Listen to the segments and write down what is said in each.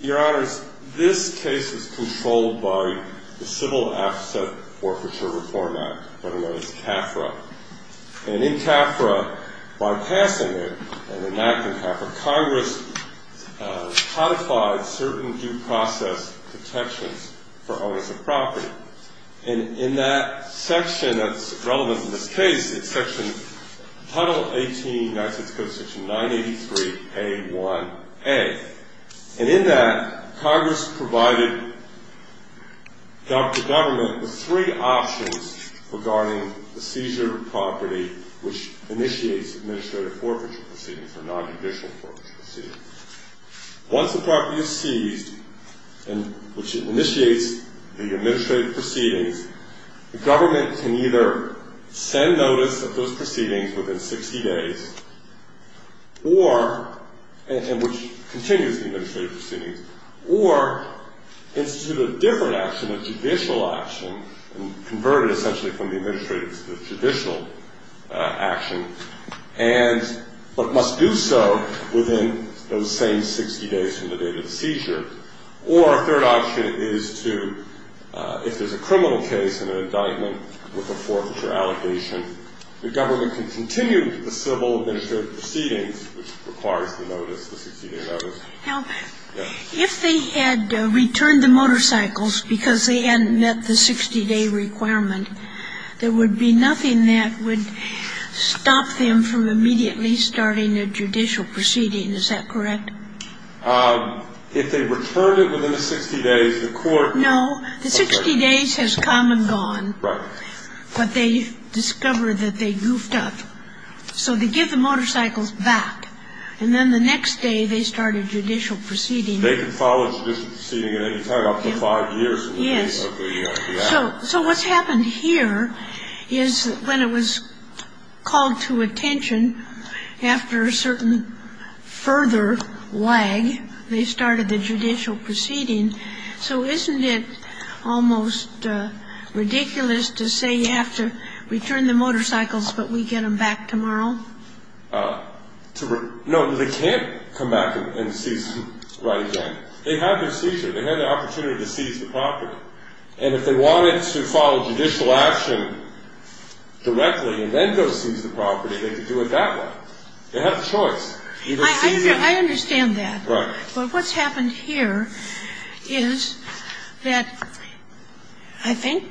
Your Honors, this case is controlled by the Civil Asset Forfeiture Reform Act, better known as CAFRA. And in CAFRA, by passing it, and enacting CAFRA, Congress codified certain due process protections for owners of property. And in that section that's relevant to this case, it's section, Title 18, United States Code Section 983A1A. And in that, Congress provided the government with three options regarding the seizure of property which initiates administrative forfeiture proceedings or nonjudicial forfeiture proceedings. Once the property is seized, and which initiates the administrative proceedings, the government can either send notice of those proceedings within 60 days, or, and which continues the administrative proceedings, or institute a different action, a judicial action, and convert it essentially from the administrative to the judicial action, but must do so within those same 60 days from the date of the seizure. Or a third option is to, if there's a criminal case and an indictment with a forfeiture allegation, the government can continue the civil administrative proceedings which requires the notice, the 60-day notice. Now, if they had returned the motorcycles because they hadn't met the 60-day requirement, there would be nothing that would stop them from immediately starting a judicial proceeding, is that correct? If they returned it within the 60 days, the court… No. The 60 days has come and gone. Right. But they discovered that they goofed up. So they give the motorcycles back. And then the next day, they start a judicial proceeding. They can follow a judicial proceeding at any time up to five years. Yes. So what's happened here is when it was called to attention, after a certain further lag, they started the judicial proceeding. So isn't it almost ridiculous to say you have to return the motorcycles, but we get them back tomorrow? No, they can't come back and seize them right again. They had the seizure. They had the opportunity to seize the property. And if they wanted to follow judicial action directly and then go seize the property, they could do it that way. They had a choice. I understand that. Right. But what's happened here is that I think,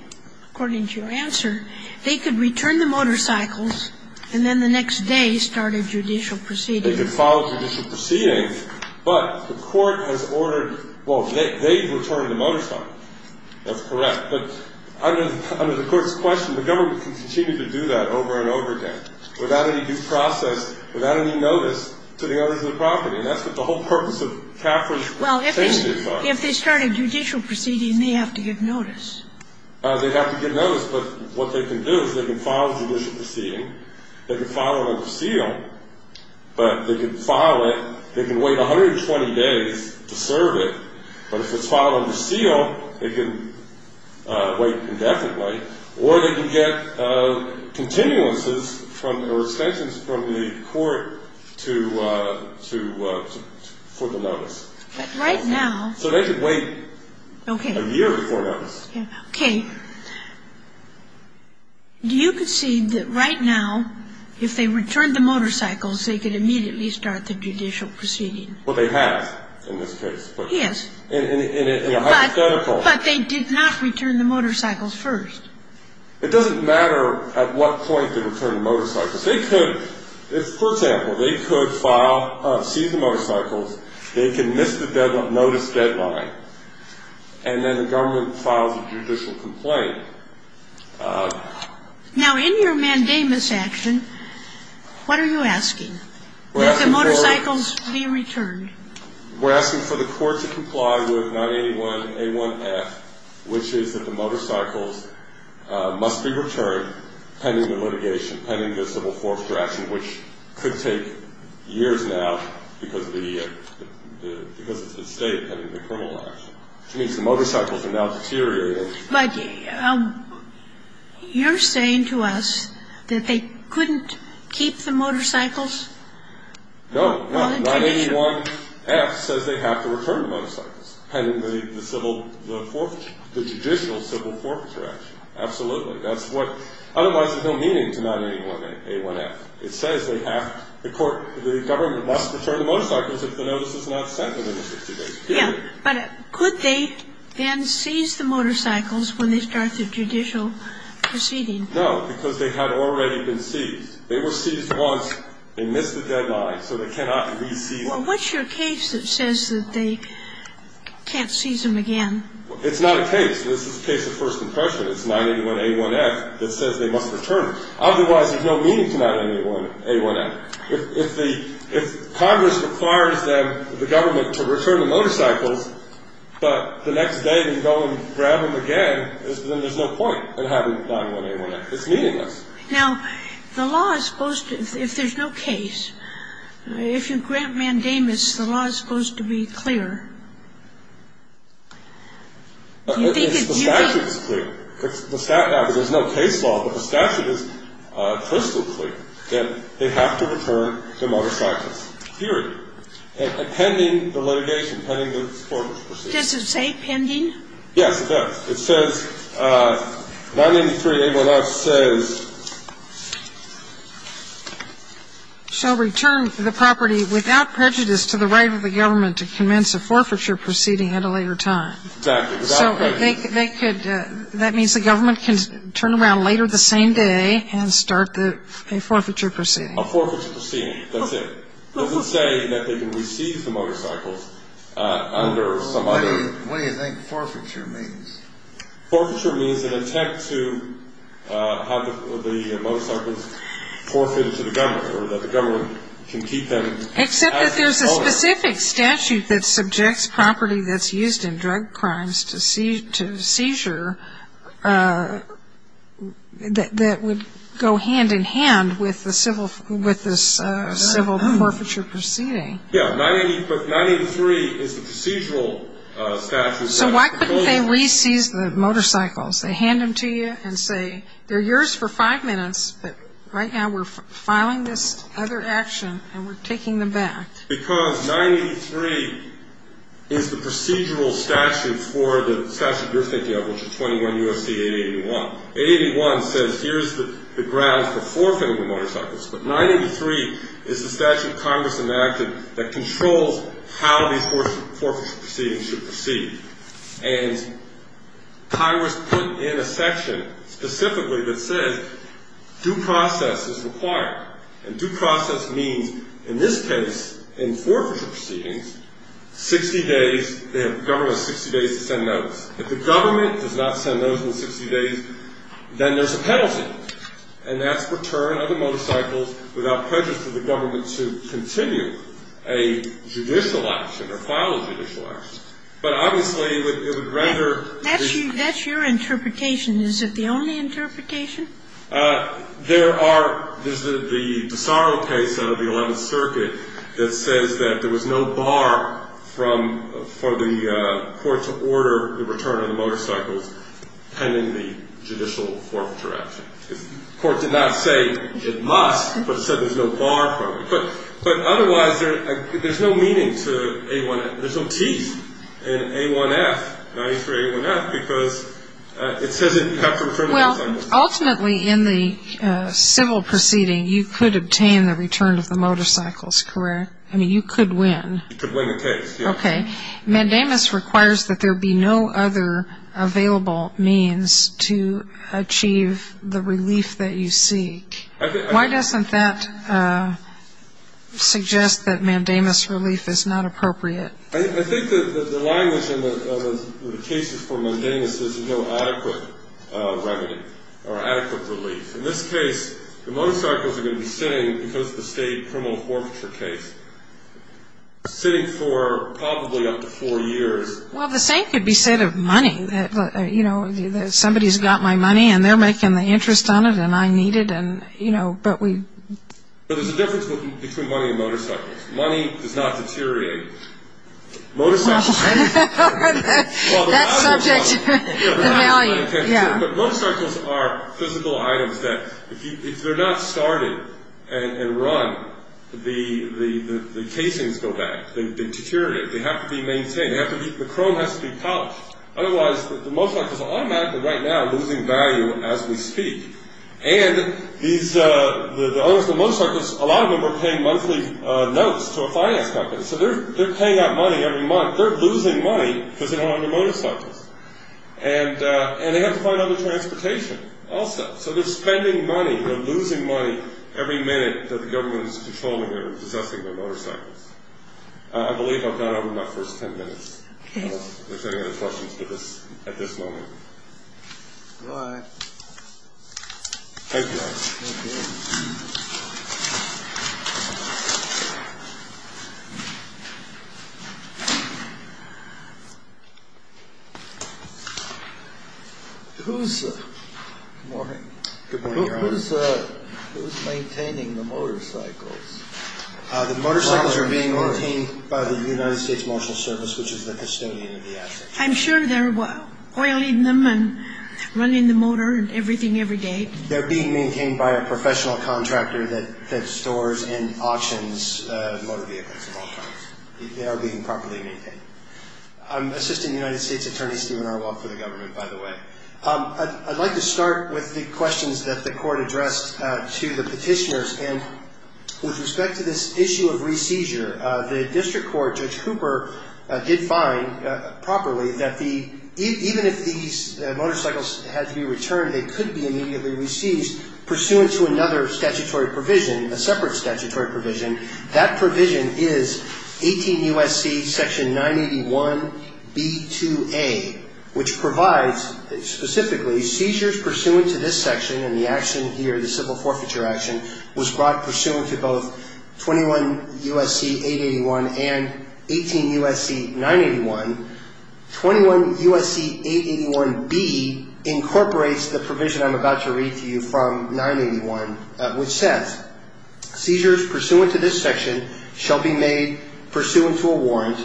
according to your answer, they could return the motorcycles, and then the next day start a judicial proceeding. They could follow a judicial proceeding, but the court has ordered they return the motorcycle. That's correct. But under the court's question, the government can continue to do that over and over again without any due process, without any notice to the owners of the property. And that's what the whole purpose of Caffer's case is. Well, if they start a judicial proceeding, they have to get notice. They have to get notice. But what they can do is they can follow a judicial proceeding. They can follow a seal. But they can file it. They can wait 120 days to serve it. But if it's filed under seal, they can wait indefinitely. Or they can get continuances or extensions from the court for the notice. Right now. So they could wait a year before notice. Okay. Do you concede that right now, if they return the motorcycles, they could immediately start the judicial proceeding? Well, they have in this case. Yes. In a hypothetical. But they did not return the motorcycles first. It doesn't matter at what point they return the motorcycles. They could, for example, they could seize the motorcycles. They can miss the notice deadline. And then the government files a judicial complaint. Now, in your mandamus action, what are you asking? That the motorcycles be returned. We're asking for the court to comply with 981A1F, which is that the motorcycles must be returned pending the litigation, pending the civil force direction, which could take years now because of the state pending the criminal action. Which means the motorcycles are now deteriorating. But you're saying to us that they couldn't keep the motorcycles? No, no. 981F says they have to return the motorcycles pending the civil forfeiture, the judicial civil forfeiture action. Absolutely. That's what, otherwise there's no meaning to 981A1F. It says they have, the court, the government must return the motorcycles if the notice is not sent within the 60 days. Yeah. But could they then seize the motorcycles when they start the judicial proceeding? No, because they had already been seized. They were seized once. They missed the deadline. So they cannot re-seize them. Well, what's your case that says that they can't seize them again? It's not a case. This is a case of first impression. It's 981A1F that says they must return them. Otherwise, there's no meaning to 981A1F. If Congress requires them, the government, to return the motorcycles, but the next day they go and grab them again, then there's no point in having 981A1F. It's meaningless. Now, the law is supposed to, if there's no case, if you grant mandamus, the law is supposed to be clear. It's the statute that's clear. There's no case law, but the statute is crystal clear that they have to return the motorcycles. Period. And pending the litigation, pending the court's proceedings. Does it say pending? Yes, it does. It says, 983A1F says, shall return the property without prejudice to the right of the government to commence a forfeiture proceeding at a later time. Exactly. So they could, that means the government can turn around later the same day and start a forfeiture proceeding. A forfeiture proceeding. That's it. It doesn't say that they can receive the motorcycles under some other. What do you think forfeiture means? Forfeiture means an attempt to have the motorcycles forfeited to the government or that the government can keep them. Except that there's a specific statute that subjects property that's used in drug crimes to seizure that would go hand-in-hand with the civil forfeiture proceeding. Yeah, 983 is the procedural statute. So why couldn't they re-seize the motorcycles? They hand them to you and say, they're yours for five minutes, but right now we're filing this other action and we're taking them back. Because 983 is the procedural statute for the statute you're thinking of, which is 21 U.S.C. 881. 881 says here's the grounds for forfeiting the motorcycles, but 983 is the statute Congress enacted that controls how these forfeiture proceedings should proceed. And Congress put in a section specifically that says due process is required. And due process means, in this case, in forfeiture proceedings, 60 days, the government has 60 days to send notice. If the government does not send notice in 60 days, then there's a penalty, and that's return of the motorcycles without prejudice to the government to continue a judicial action or file a judicial action. But obviously, it would rather... That's your interpretation. Is it the only interpretation? There are the sorrow case out of the 11th Circuit that says that there was no bar for the court to order the return of the motorcycles pending the judicial forfeiture action. The court did not say it must, but said there's no bar for it. But otherwise, there's no meaning to 818. There's no teeth in A1F, 983A1F, because it says you have to return the motorcycles. Well, ultimately, in the civil proceeding, you could obtain the return of the motorcycles, correct? I mean, you could win. You could win the case, yes. Okay. Mandamus requires that there be no other available means to achieve the relief that you seek. Why doesn't that suggest that mandamus relief is not appropriate? I think the language in the cases for mandamus is no adequate revenue or adequate relief. In this case, the motorcycles are going to be sitting, because of the state criminal forfeiture case, sitting for probably up to four years. Well, the same could be said of money. You know, somebody's got my money, and they're making the interest on it, and I need it, and, you know, but we... But there's a difference between money and motorcycles. Money does not deteriorate. That's subject to the value. Yeah. But motorcycles are physical items that, if they're not started and run, the casings go back. They deteriorate. They have to be maintained. The chrome has to be polished. Otherwise, the motorcycles are automatically right now losing value as we speak. And these, the owners of the motorcycles, a lot of them are paying monthly notes to a finance company. So they're paying out money every month. They're losing money because they don't own their motorcycles. And they have to find other transportation also. So they're spending money. They're losing money every minute that the government is controlling or possessing their motorcycles. I believe I've gone over my first ten minutes. If there's any other questions at this moment. All right. Thank you. Thank you. Who's... Good morning. Good morning, Ron. Who's maintaining the motorcycles? The motorcycles are being maintained by the United States Marshal Service, which is the custodian of the assets. I'm sure they're oiling them and running the motor and everything every day. They're being maintained by a professional contractor that stores and auctions motor vehicles at all times. They are being properly maintained. I'm Assistant United States Attorney Stephen Arwok for the government, by the way. I'd like to start with the questions that the court addressed to the petitioners. And with respect to this issue of re-seizure, the district court, Judge Cooper, did find properly that even if these motorcycles had to be returned, they could be immediately re-seized pursuant to another statutory provision, a separate statutory provision. That provision is 18 U.S.C. Section 981B2A, which provides specifically seizures pursuant to this section. And the action here, the civil forfeiture action, was brought pursuant to both 21 U.S.C. 881 and 18 U.S.C. 981. 21 U.S.C. 881B incorporates the provision I'm about to read to you from 981, which says, Seizures pursuant to this section shall be made pursuant to a warrant,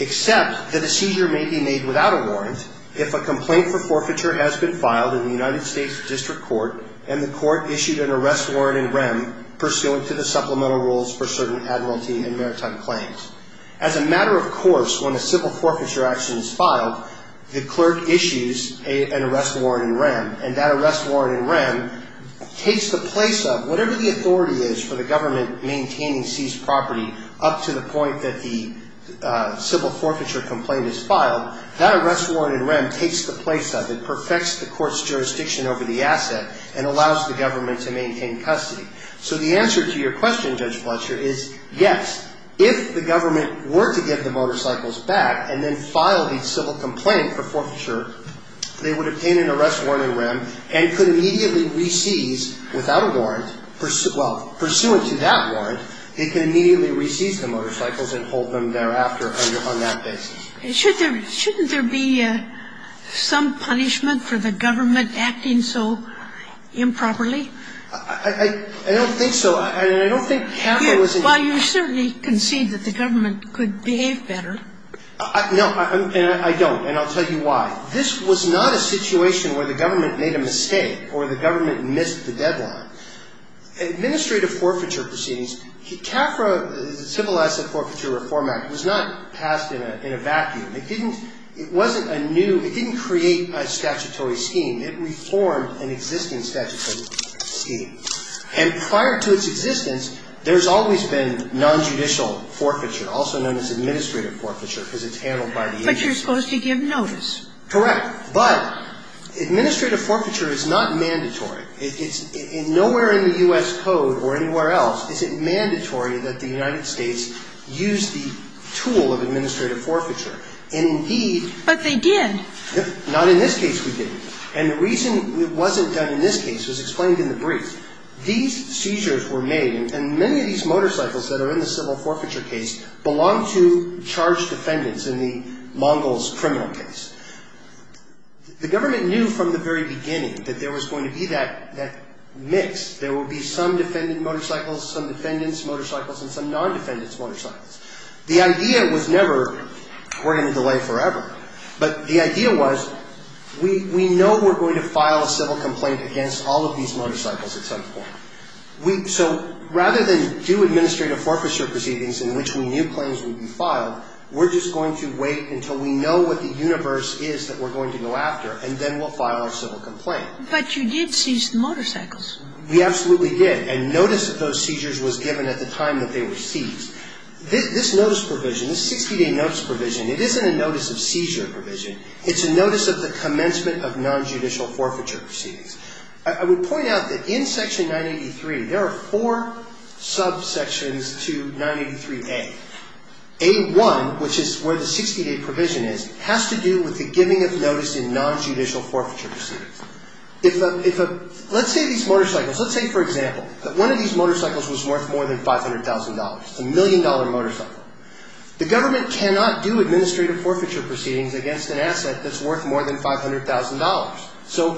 except that a seizure may be made without a warrant, if a complaint for forfeiture has been filed in the United States District Court and the court issued an arrest warrant in REM pursuant to the supplemental rules for certain admiralty and maritime claims. As a matter of course, when a civil forfeiture action is filed, the clerk issues an arrest warrant in REM. And that arrest warrant in REM takes the place of whatever the authority is for the government maintaining seized property up to the point that the civil forfeiture complaint is filed. That arrest warrant in REM takes the place of it, perfects the court's jurisdiction over the asset, and allows the government to maintain custody. So the answer to your question, Judge Fletcher, is yes. If the government were to get the motorcycles back and then file the civil complaint for forfeiture, they would obtain an arrest warrant in REM and could immediately re-seize, without a warrant, well, pursuant to that warrant, they could immediately re-seize the motorcycles and hold them thereafter on that basis. Shouldn't there be some punishment for the government acting so improperly? I don't think so. I don't think that was an issue. Well, you certainly concede that the government could behave better. No, and I don't. And I'll tell you why. This was not a situation where the government made a mistake or the government missed the deadline. Administrative forfeiture proceedings, CAFRA, the Civil Asset Forfeiture Reform Act, was not passed in a vacuum. It didn't ñ it wasn't a new ñ it didn't create a statutory scheme. It reformed an existing statutory scheme. And prior to its existence, there's always been nonjudicial forfeiture, also known as administrative forfeiture, because it's handled by the agency. But you're supposed to give notice. Correct. But administrative forfeiture is not mandatory. It's ñ nowhere in the U.S. Code or anywhere else is it mandatory that the United States use the tool of administrative forfeiture. Indeed ñ But they did. Not in this case we didn't. And the reason it wasn't done in this case was explained in the brief. These seizures were made, and many of these motorcycles that are in the civil forfeiture case belong to charged defendants in the Mongols' criminal case. The government knew from the very beginning that there was going to be that mix. There would be some defendant motorcycles, some defendant's motorcycles, and some non-defendant's motorcycles. The idea was never we're going to delay forever. But the idea was we know we're going to file a civil complaint against all of these motorcycles at some point. So rather than do administrative forfeiture proceedings in which we knew claims would be filed, we're just going to wait until we know what the universe is that we're going to go after, and then we'll file our civil complaint. But you did seize the motorcycles. We absolutely did. And notice of those seizures was given at the time that they were seized. This notice provision, this 60-day notice provision, it isn't a notice of seizure provision. It's a notice of the commencement of nonjudicial forfeiture proceedings. I would point out that in Section 983, there are four subsections to 983A. A1, which is where the 60-day provision is, has to do with the giving of notice in nonjudicial forfeiture proceedings. Let's say these motorcycles, let's say, for example, that one of these motorcycles was worth more than $500,000. It's a million-dollar motorcycle. The government cannot do administrative forfeiture proceedings against an asset that's worth more than $500,000. So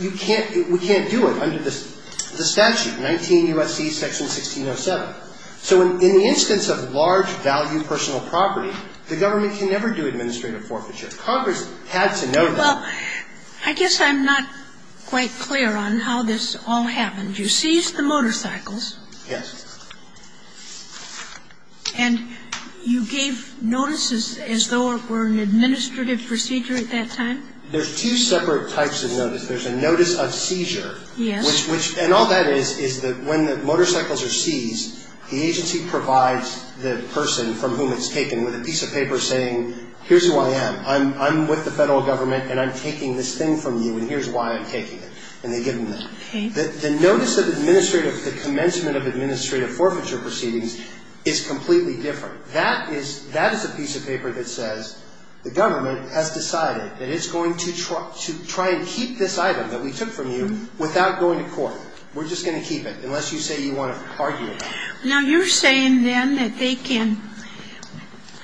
you can't do it under the statute, 19 U.S.C. Section 1607. So in the instance of large-value personal property, the government can never do administrative forfeiture. Congress had to know that. Well, I guess I'm not quite clear on how this all happened. You seized the motorcycles. Yes. And you gave notices as though it were an administrative procedure at that time? There's two separate types of notice. There's a notice of seizure. Yes. And all that is is that when the motorcycles are seized, the agency provides the person from whom it's taken with a piece of paper saying, here's who I am. I'm with the federal government, and I'm taking this thing from you, and here's why I'm taking it. And they give them that. Okay. The notice of administrative, the commencement of administrative forfeiture proceedings is completely different. That is a piece of paper that says the government has decided that it's going to try and keep this item that we took from you without going to court. We're just going to keep it, unless you say you want to argue about it. Now, you're saying then that they can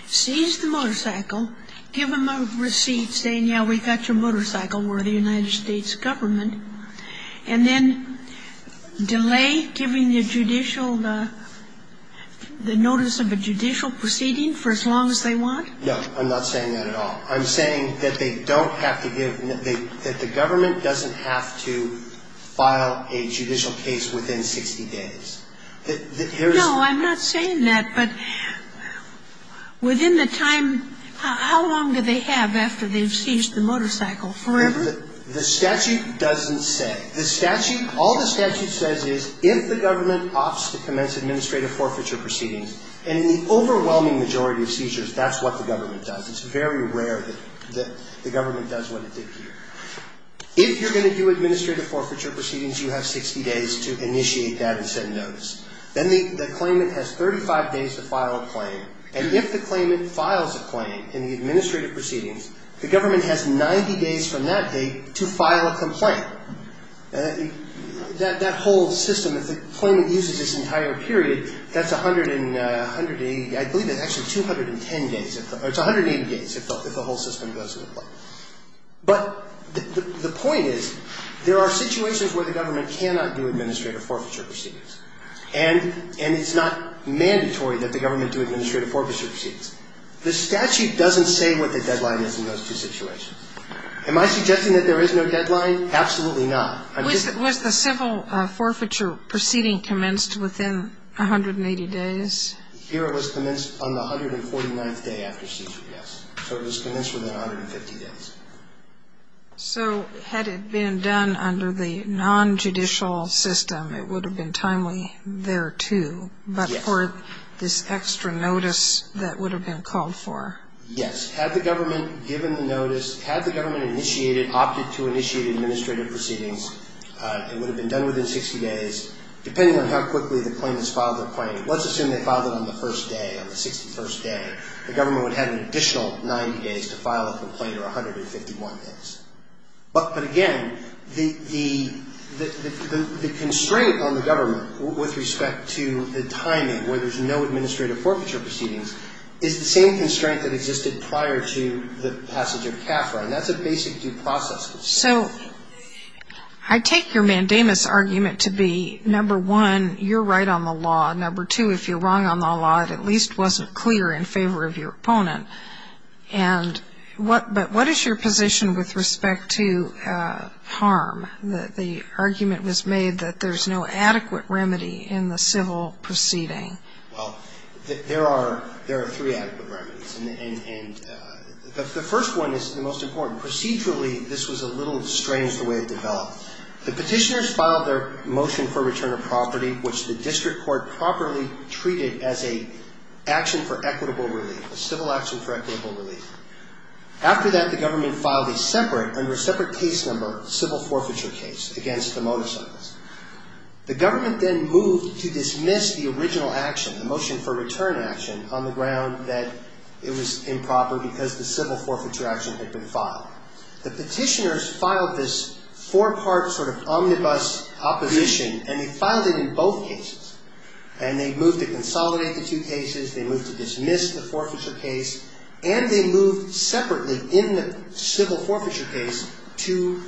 seize the motorcycle, give them a receipt saying, yeah, we got your motorcycle, we're the United States government, and then delay giving the judicial, the notice of a judicial proceeding for as long as they want? No, I'm not saying that at all. I'm saying that they don't have to give, that the government doesn't have to file a judicial case within 60 days. No, I'm not saying that, but within the time, how long do they have after they've seized the motorcycle? Forever? Forever. The statute doesn't say. The statute, all the statute says is if the government opts to commence administrative forfeiture proceedings, and in the overwhelming majority of seizures, that's what the government does. It's very rare that the government does what it did here. If you're going to do administrative forfeiture proceedings, you have 60 days to initiate that and send notice. Then the claimant has 35 days to file a claim. And if the claimant files a claim in the administrative proceedings, the government has 90 days from that date to file a complaint. That whole system, if the claimant uses this entire period, that's 180, I believe it's actually 210 days, it's 180 days if the whole system goes into play. But the point is, there are situations where the government cannot do administrative forfeiture proceedings, and it's not mandatory that the government do administrative forfeiture proceedings. The statute doesn't say what the deadline is in those two situations. Am I suggesting that there is no deadline? Absolutely not. Was the civil forfeiture proceeding commenced within 180 days? Here it was commenced on the 149th day after seizure, yes. So it was commenced within 150 days. So had it been done under the nonjudicial system, it would have been timely there, too, but for this extra notice that would have been called for? Yes. Had the government given the notice, had the government initiated, opted to initiate administrative proceedings, it would have been done within 60 days, depending on how quickly the claimants filed their claim. Let's assume they filed it on the first day, on the 61st day. The government would have had an additional 90 days to file a complaint or 151 days. But, again, the constraint on the government with respect to the timing, where there's no administrative forfeiture proceedings, is the same constraint that existed prior to the passage of CAFRA, and that's a basic due process. So I take your mandamus argument to be, number one, you're right on the law. Number two, if you're wrong on the law, it at least wasn't clear in favor of your opponent. But what is your position with respect to harm? The argument was made that there's no adequate remedy in the civil proceeding. Well, there are three adequate remedies, and the first one is the most important. Procedurally, this was a little strange the way it developed. The petitioners filed their motion for return of property, which the district court properly treated as a civil action for equitable relief. After that, the government filed a separate, under a separate case number, civil forfeiture case against the motorcycles. The government then moved to dismiss the original action, the motion for return action, on the ground that it was improper because the civil forfeiture action had been filed. The petitioners filed this four-part sort of omnibus opposition, and they filed it in both cases. And they moved to consolidate the two cases, they moved to dismiss the forfeiture case, and they moved separately in the civil forfeiture case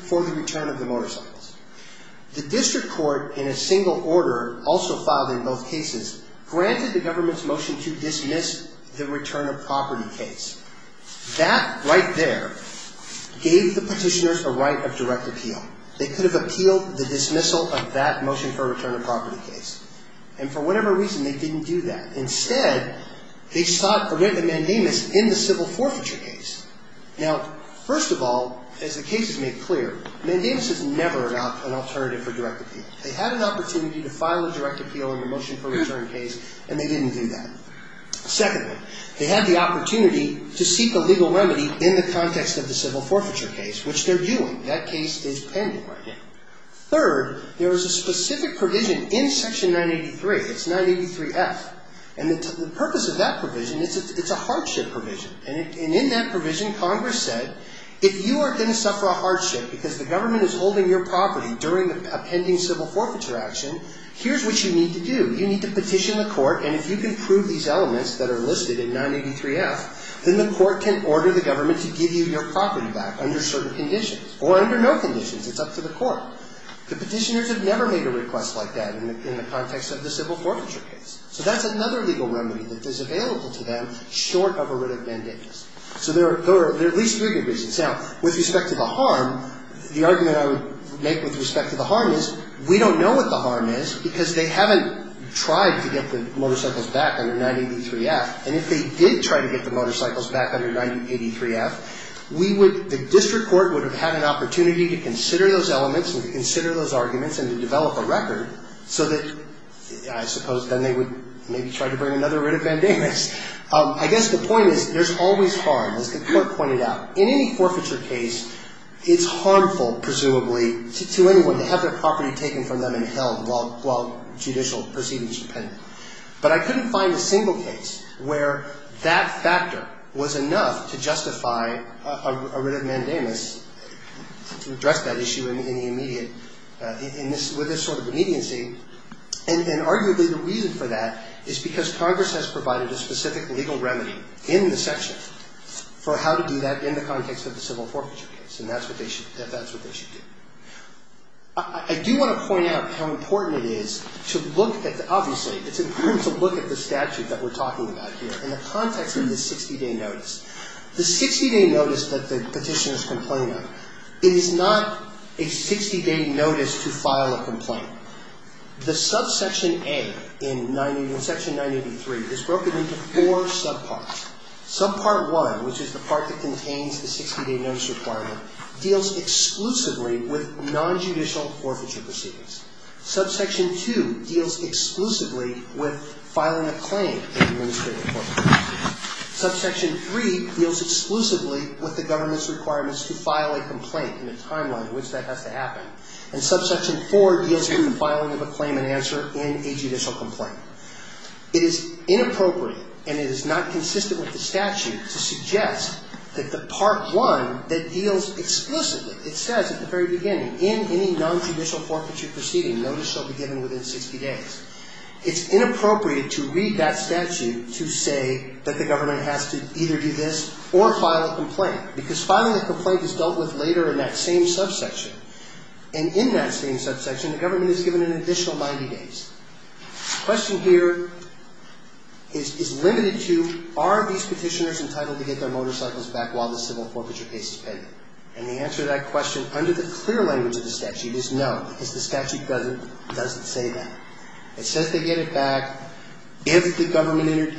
for the return of the motorcycles. The district court, in a single order, also filed in both cases, granted the government's motion to dismiss the return of property case. That, right there, gave the petitioners a right of direct appeal. They could have appealed the dismissal of that motion for return of property case. And for whatever reason, they didn't do that. Instead, they sought a written mandamus in the civil forfeiture case. Now, first of all, as the case is made clear, mandamus is never an alternative for direct appeal. They had an opportunity to file a direct appeal in the motion for return case, and they didn't do that. Secondly, they had the opportunity to seek a legal remedy in the context of the civil forfeiture case, which they're doing. That case is pending right now. Third, there was a specific provision in Section 983. It's 983F. And the purpose of that provision, it's a hardship provision. And in that provision, Congress said, if you are going to suffer a hardship because the government is holding your property during a pending civil forfeiture action, here's what you need to do. You need to petition the court. And if you can prove these elements that are listed in 983F, then the court can order the government to give you your property back under certain conditions. Or under no conditions. It's up to the court. The petitioners have never made a request like that in the context of the civil forfeiture case. So that's another legal remedy that is available to them short of a written mandamus. So there are at least three reasons. Now, with respect to the harm, the argument I would make with respect to the harm is we don't know what the harm is because they haven't tried to get the motorcycles back under 983F. And if they did try to get the motorcycles back under 983F, the district court would have had an opportunity to consider those elements and to consider those arguments and to develop a record so that, I suppose, then they would maybe try to bring another written mandamus. I guess the point is there's always harm, as the court pointed out. In any forfeiture case, it's harmful, presumably, to anyone to have their property taken from them and held while judicial proceedings depend. But I couldn't find a single case where that factor was enough to justify a written mandamus to address that issue in the immediate, with this sort of immediacy. And arguably the reason for that is because Congress has provided a specific legal remedy in the section for how to do that in the context of the civil forfeiture case. And that's what they should do. I do want to point out how important it is to look at, obviously, it's important to look at the statute that we're talking about here in the context of the 60-day notice. The 60-day notice that the petitioners complain of is not a 60-day notice to file a complaint. The subsection A in section 983 is broken into four subparts. Subpart 1, which is the part that contains the 60-day notice requirement, deals exclusively with nonjudicial forfeiture proceedings. Subsection 2 deals exclusively with filing a claim in administrative forfeiture proceedings. Subsection 3 deals exclusively with the government's requirements to file a complaint in the timeline in which that has to happen. And subsection 4 deals with filing of a claim and answer in a judicial complaint. It is inappropriate and it is not consistent with the statute to suggest that the part 1 that deals exclusively, it says at the very beginning, in any nonjudicial forfeiture proceeding, notice shall be given within 60 days. It's inappropriate to read that statute to say that the government has to either do this or file a complaint because filing a complaint is dealt with later in that same subsection. And in that same subsection, the government is given an additional 90 days. The question here is limited to are these Petitioners entitled to get their motorcycles back while the civil forfeiture case is pending? And the answer to that question, under the clear language of the statute, is no, because the statute doesn't say that. It says they get it back if the government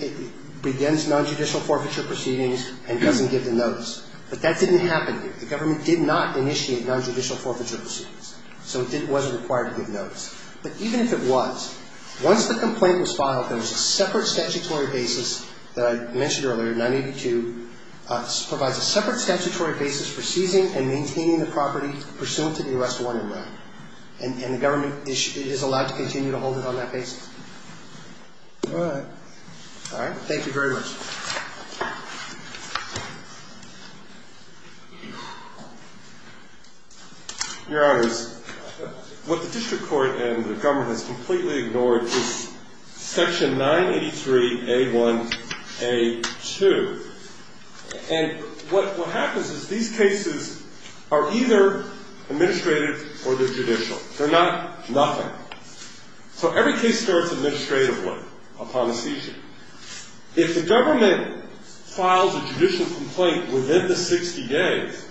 begins nonjudicial forfeiture proceedings and doesn't give the notice. But that didn't happen here. The government did not initiate nonjudicial forfeiture proceedings. So it wasn't required to give notice. But even if it was, once the complaint was filed, there was a separate statutory basis that I mentioned earlier, 982. This provides a separate statutory basis for seizing and maintaining the property pursuant to the arrest warning law. And the government is allowed to continue to hold it on that basis. All right. All right. Thank you very much. Your Honors, what the district court and the government has completely ignored is Section 983A1A2. And what happens is these cases are either administrative or they're judicial. They're not nothing. So every case starts administratively upon a seizure. If the government files a judicial complaint within the 60 days,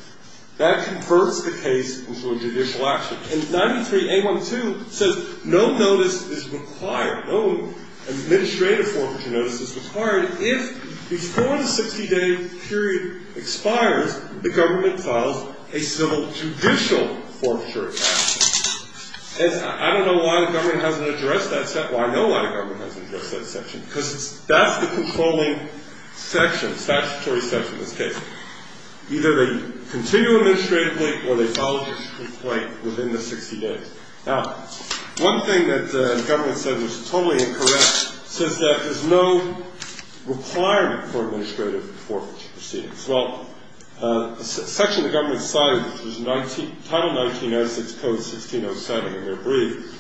that converts the case into a judicial action. And 93A1A2 says no notice is required, no administrative forfeiture notice is required if before the 60-day period expires, the government files a civil judicial forfeiture action. And I don't know why the government hasn't addressed that. Well, I know why the government hasn't addressed that section because that's the controlling section, statutory section of this case. Either they continue administratively or they file a judicial complaint within the 60 days. Now, one thing that the government said was totally incorrect says that there's no requirement for administrative forfeiture proceedings. Well, the section the government cited, which was Title 1906, Code 1607 in their brief,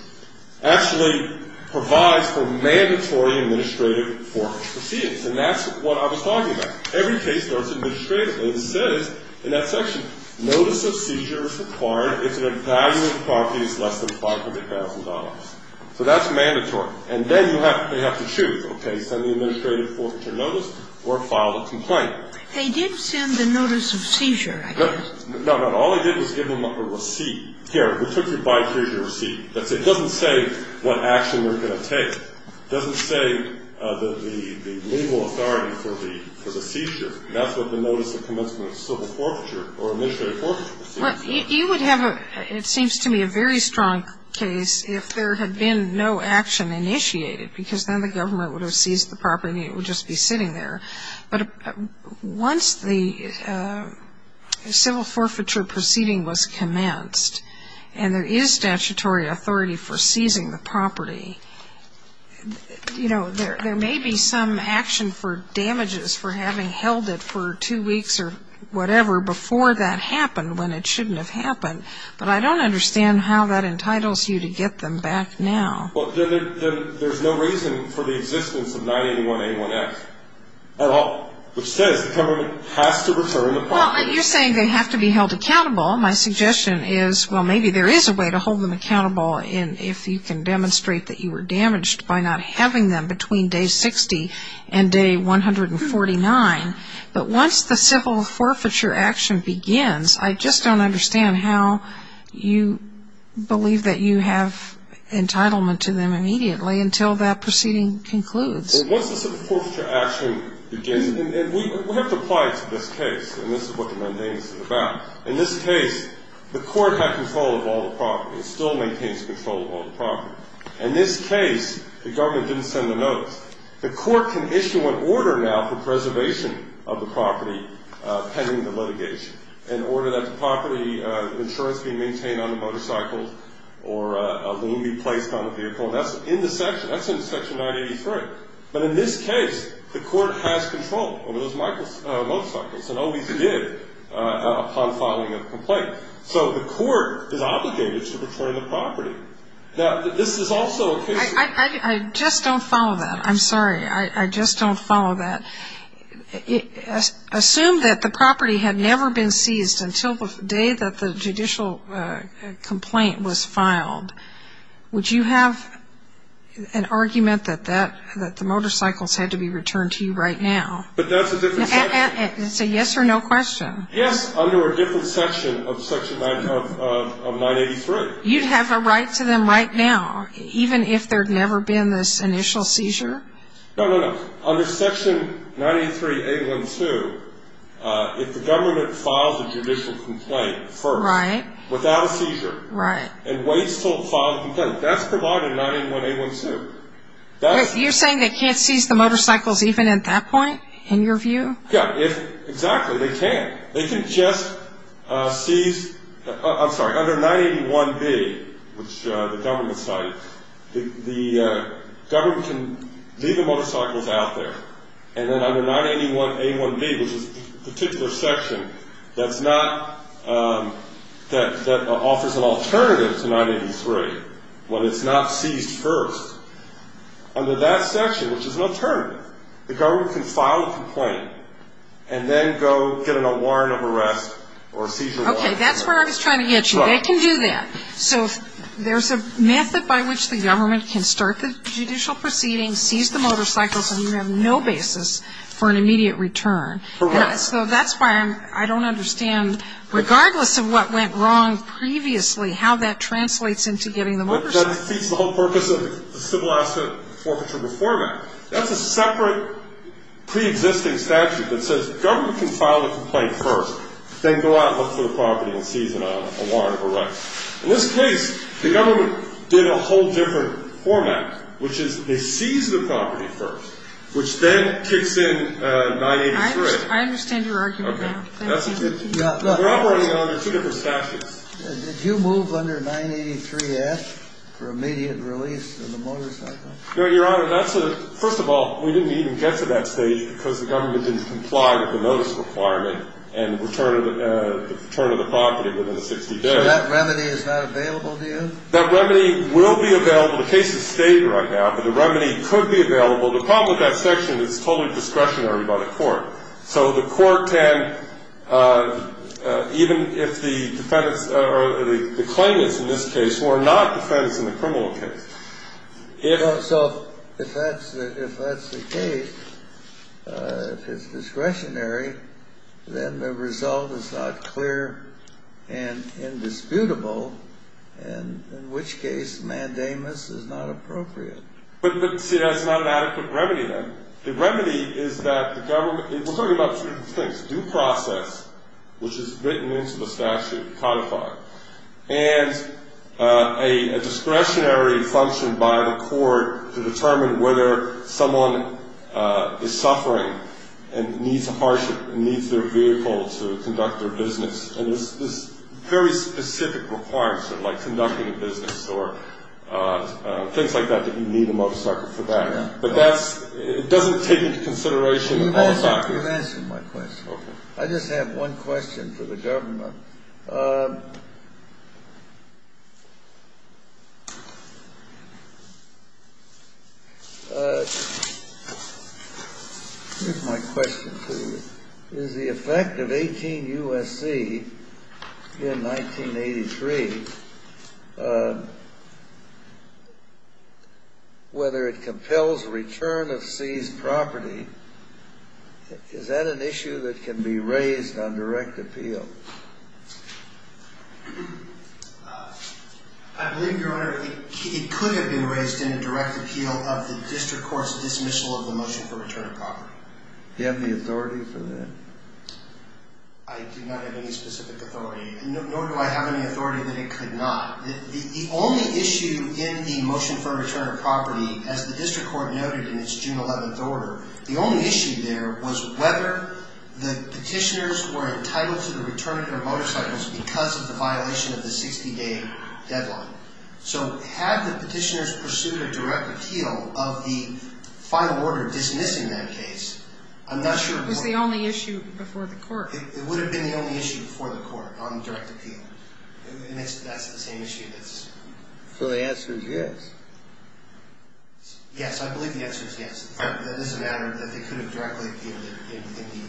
actually provides for mandatory administrative forfeiture proceedings. And that's what I was talking about. Every case starts administratively. It says in that section, notice of seizure is required if the value of the property is less than $500,000. So that's mandatory. And then you have to choose, okay, send the administrative forfeiture notice or file the complaint. They did send the notice of seizure, I guess. No, no. All they did was give them a receipt. Here. We took your buy-and-seize receipt. It doesn't say what action we're going to take. It doesn't say the legal authority for the seizure. That's what the notice of commencement of civil forfeiture or administrative forfeiture is. Well, you would have, it seems to me, a very strong case if there had been no action initiated because then the government would have seized the property and it would just be sitting there. But once the civil forfeiture proceeding was commenced and there is statutory authority for seizing the property, you know, there may be some action for damages for having held it for two weeks or whatever before that happened when it shouldn't have happened. But I don't understand how that entitles you to get them back now. Well, there's no reason for the existence of 981A1X at all, which says the government has to return the property. Well, you're saying they have to be held accountable. My suggestion is, well, maybe there is a way to hold them accountable if you can demonstrate that you were damaged by not having them between day 60 and day 149. But once the civil forfeiture action begins, I just don't understand how you believe that you have entitlement to them immediately until that proceeding concludes. Once the civil forfeiture action begins, and we have to apply it to this case, and this is what the mundane is about. In this case, the court had control of all the property. It still maintains control of all the property. In this case, the government didn't send a notice. The court can issue an order now for preservation of the property pending the litigation, an order that the property insurance be maintained on the motorcycle or a loan be placed on the vehicle, and that's in the section. That's in Section 983. But in this case, the court has control over those motorcycles, and always did upon filing a complaint. So the court is obligated to return the property. Now, this is also a case of – I just don't follow that. I'm sorry. I just don't follow that. Assume that the property had never been seized until the day that the judicial complaint was filed. Would you have an argument that the motorcycles had to be returned to you right now? But that's a different section. It's a yes or no question. Yes, under a different section of Section 983. You'd have a right to them right now, even if there had never been this initial seizure? No, no, no. Under Section 983.A.1.2, if the government files a judicial complaint first without a seizure and waits until it files a complaint, that's provided in 981.A.1.2. You're saying they can't seize the motorcycles even at that point, in your view? Yeah. Exactly. They can't. They can just seize – I'm sorry. Under 981.B, which the government cited, the government can leave the motorcycles out there. And then under 981.A.1.B, which is a particular section that's not – that offers an alternative to 983 when it's not seized first, under that section, which is an alternative, the government can file a complaint and then go get a warrant of arrest or a seizure warrant. Okay. That's where I was trying to get you. They can do that. So there's a method by which the government can start the judicial proceeding, seize the motorcycles, and you have no basis for an immediate return. Correct. So that's why I don't understand, regardless of what went wrong previously, how that translates into getting the motorcycles. That defeats the whole purpose of the Civil Asset Forfeiture Reform Act. That's a separate preexisting statute that says the government can file a complaint first, then go out and look for the property and seize it on a warrant of arrest. In this case, the government did a whole different format, which is they seize the property first, which then kicks in 983. I understand your argument now. Okay. We're operating under two different statutes. Did you move under 983.S for immediate release of the motorcycle? No, Your Honor. That's a – first of all, we didn't even get to that stage because the government didn't comply with the notice requirement and return of the property within 60 days. So that remedy is not available to you? That remedy will be available. The case is stated right now, but the remedy could be available. The problem with that section is it's totally discretionary by the court. So the court can, even if the defendants or the claimants in this case who are not defendants in the criminal case. So if that's the case, if it's discretionary, then the result is not clear and indisputable, in which case mandamus is not appropriate. But see, that's not an adequate remedy then. The remedy is that the government – we're talking about two different things, due process, which is written into the statute, codified, and a discretionary function by the court to determine whether someone is suffering and needs a hardship, needs their vehicle to conduct their business. And there's very specific requirements, like conducting a business or things like that, that you need a motorcycle for that. But that's – it doesn't take into consideration the motorcycle. You've answered my question. I just have one question for the government. Here's my question to you. Is the effect of 18 U.S.C. in 1983, whether it compels return of seized property, is that an issue that can be raised on direct appeal? I believe, Your Honor, it could have been raised in a direct appeal of the district court's dismissal of the motion for return of property. Do you have the authority for that? I do not have any specific authority, nor do I have any authority that it could not. The only issue in the motion for return of property, as the district court noted in its June 11th order, the only issue there was whether the petitioners were entitled to the return of their motorcycles because of the violation of the 60-day deadline. So had the petitioners pursued a direct appeal of the final order dismissing that case, I'm not sure what – It was the only issue before the court. It would have been the only issue before the court on direct appeal. That's the same issue that's – So the answer is yes. Yes, I believe the answer is yes. That is a matter that they could have directly appealed in the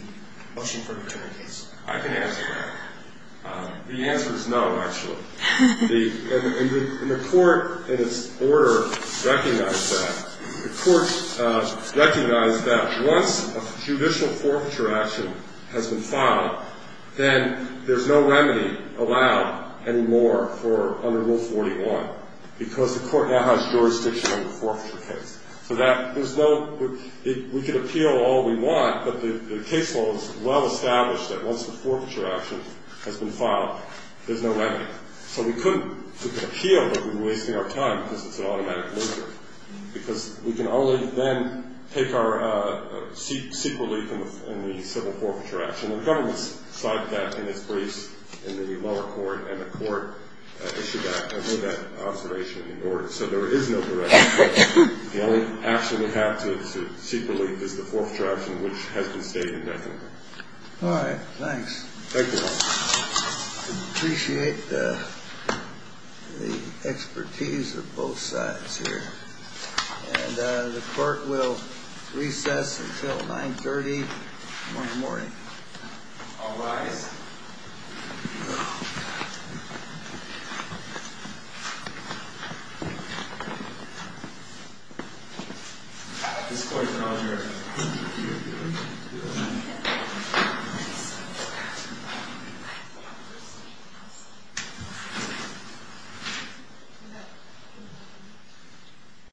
motion for return case. I can answer that. The answer is no, actually. And the court, in its order, recognized that. The court recognized that once a judicial forfeiture action has been filed, then there's no remedy allowed anymore for – under Rule 41 because the court now has jurisdiction on the forfeiture case. So that – there's no – we could appeal all we want, but the case law is well established that once the forfeiture action has been filed, there's no remedy. So we couldn't appeal, but we're wasting our time because it's an automatic loser because we can only then take our – seek relief in the civil forfeiture action. And the government cited that in its briefs in the lower court, and the court issued that observation in the order. So there is no direction. The only action we have to seek relief is the forfeiture action, which has been stated definitely. All right. Thanks. Thank you. I appreciate the expertise of both sides here. And the court will recess until 930 tomorrow morning. All rise. This court is adjourned.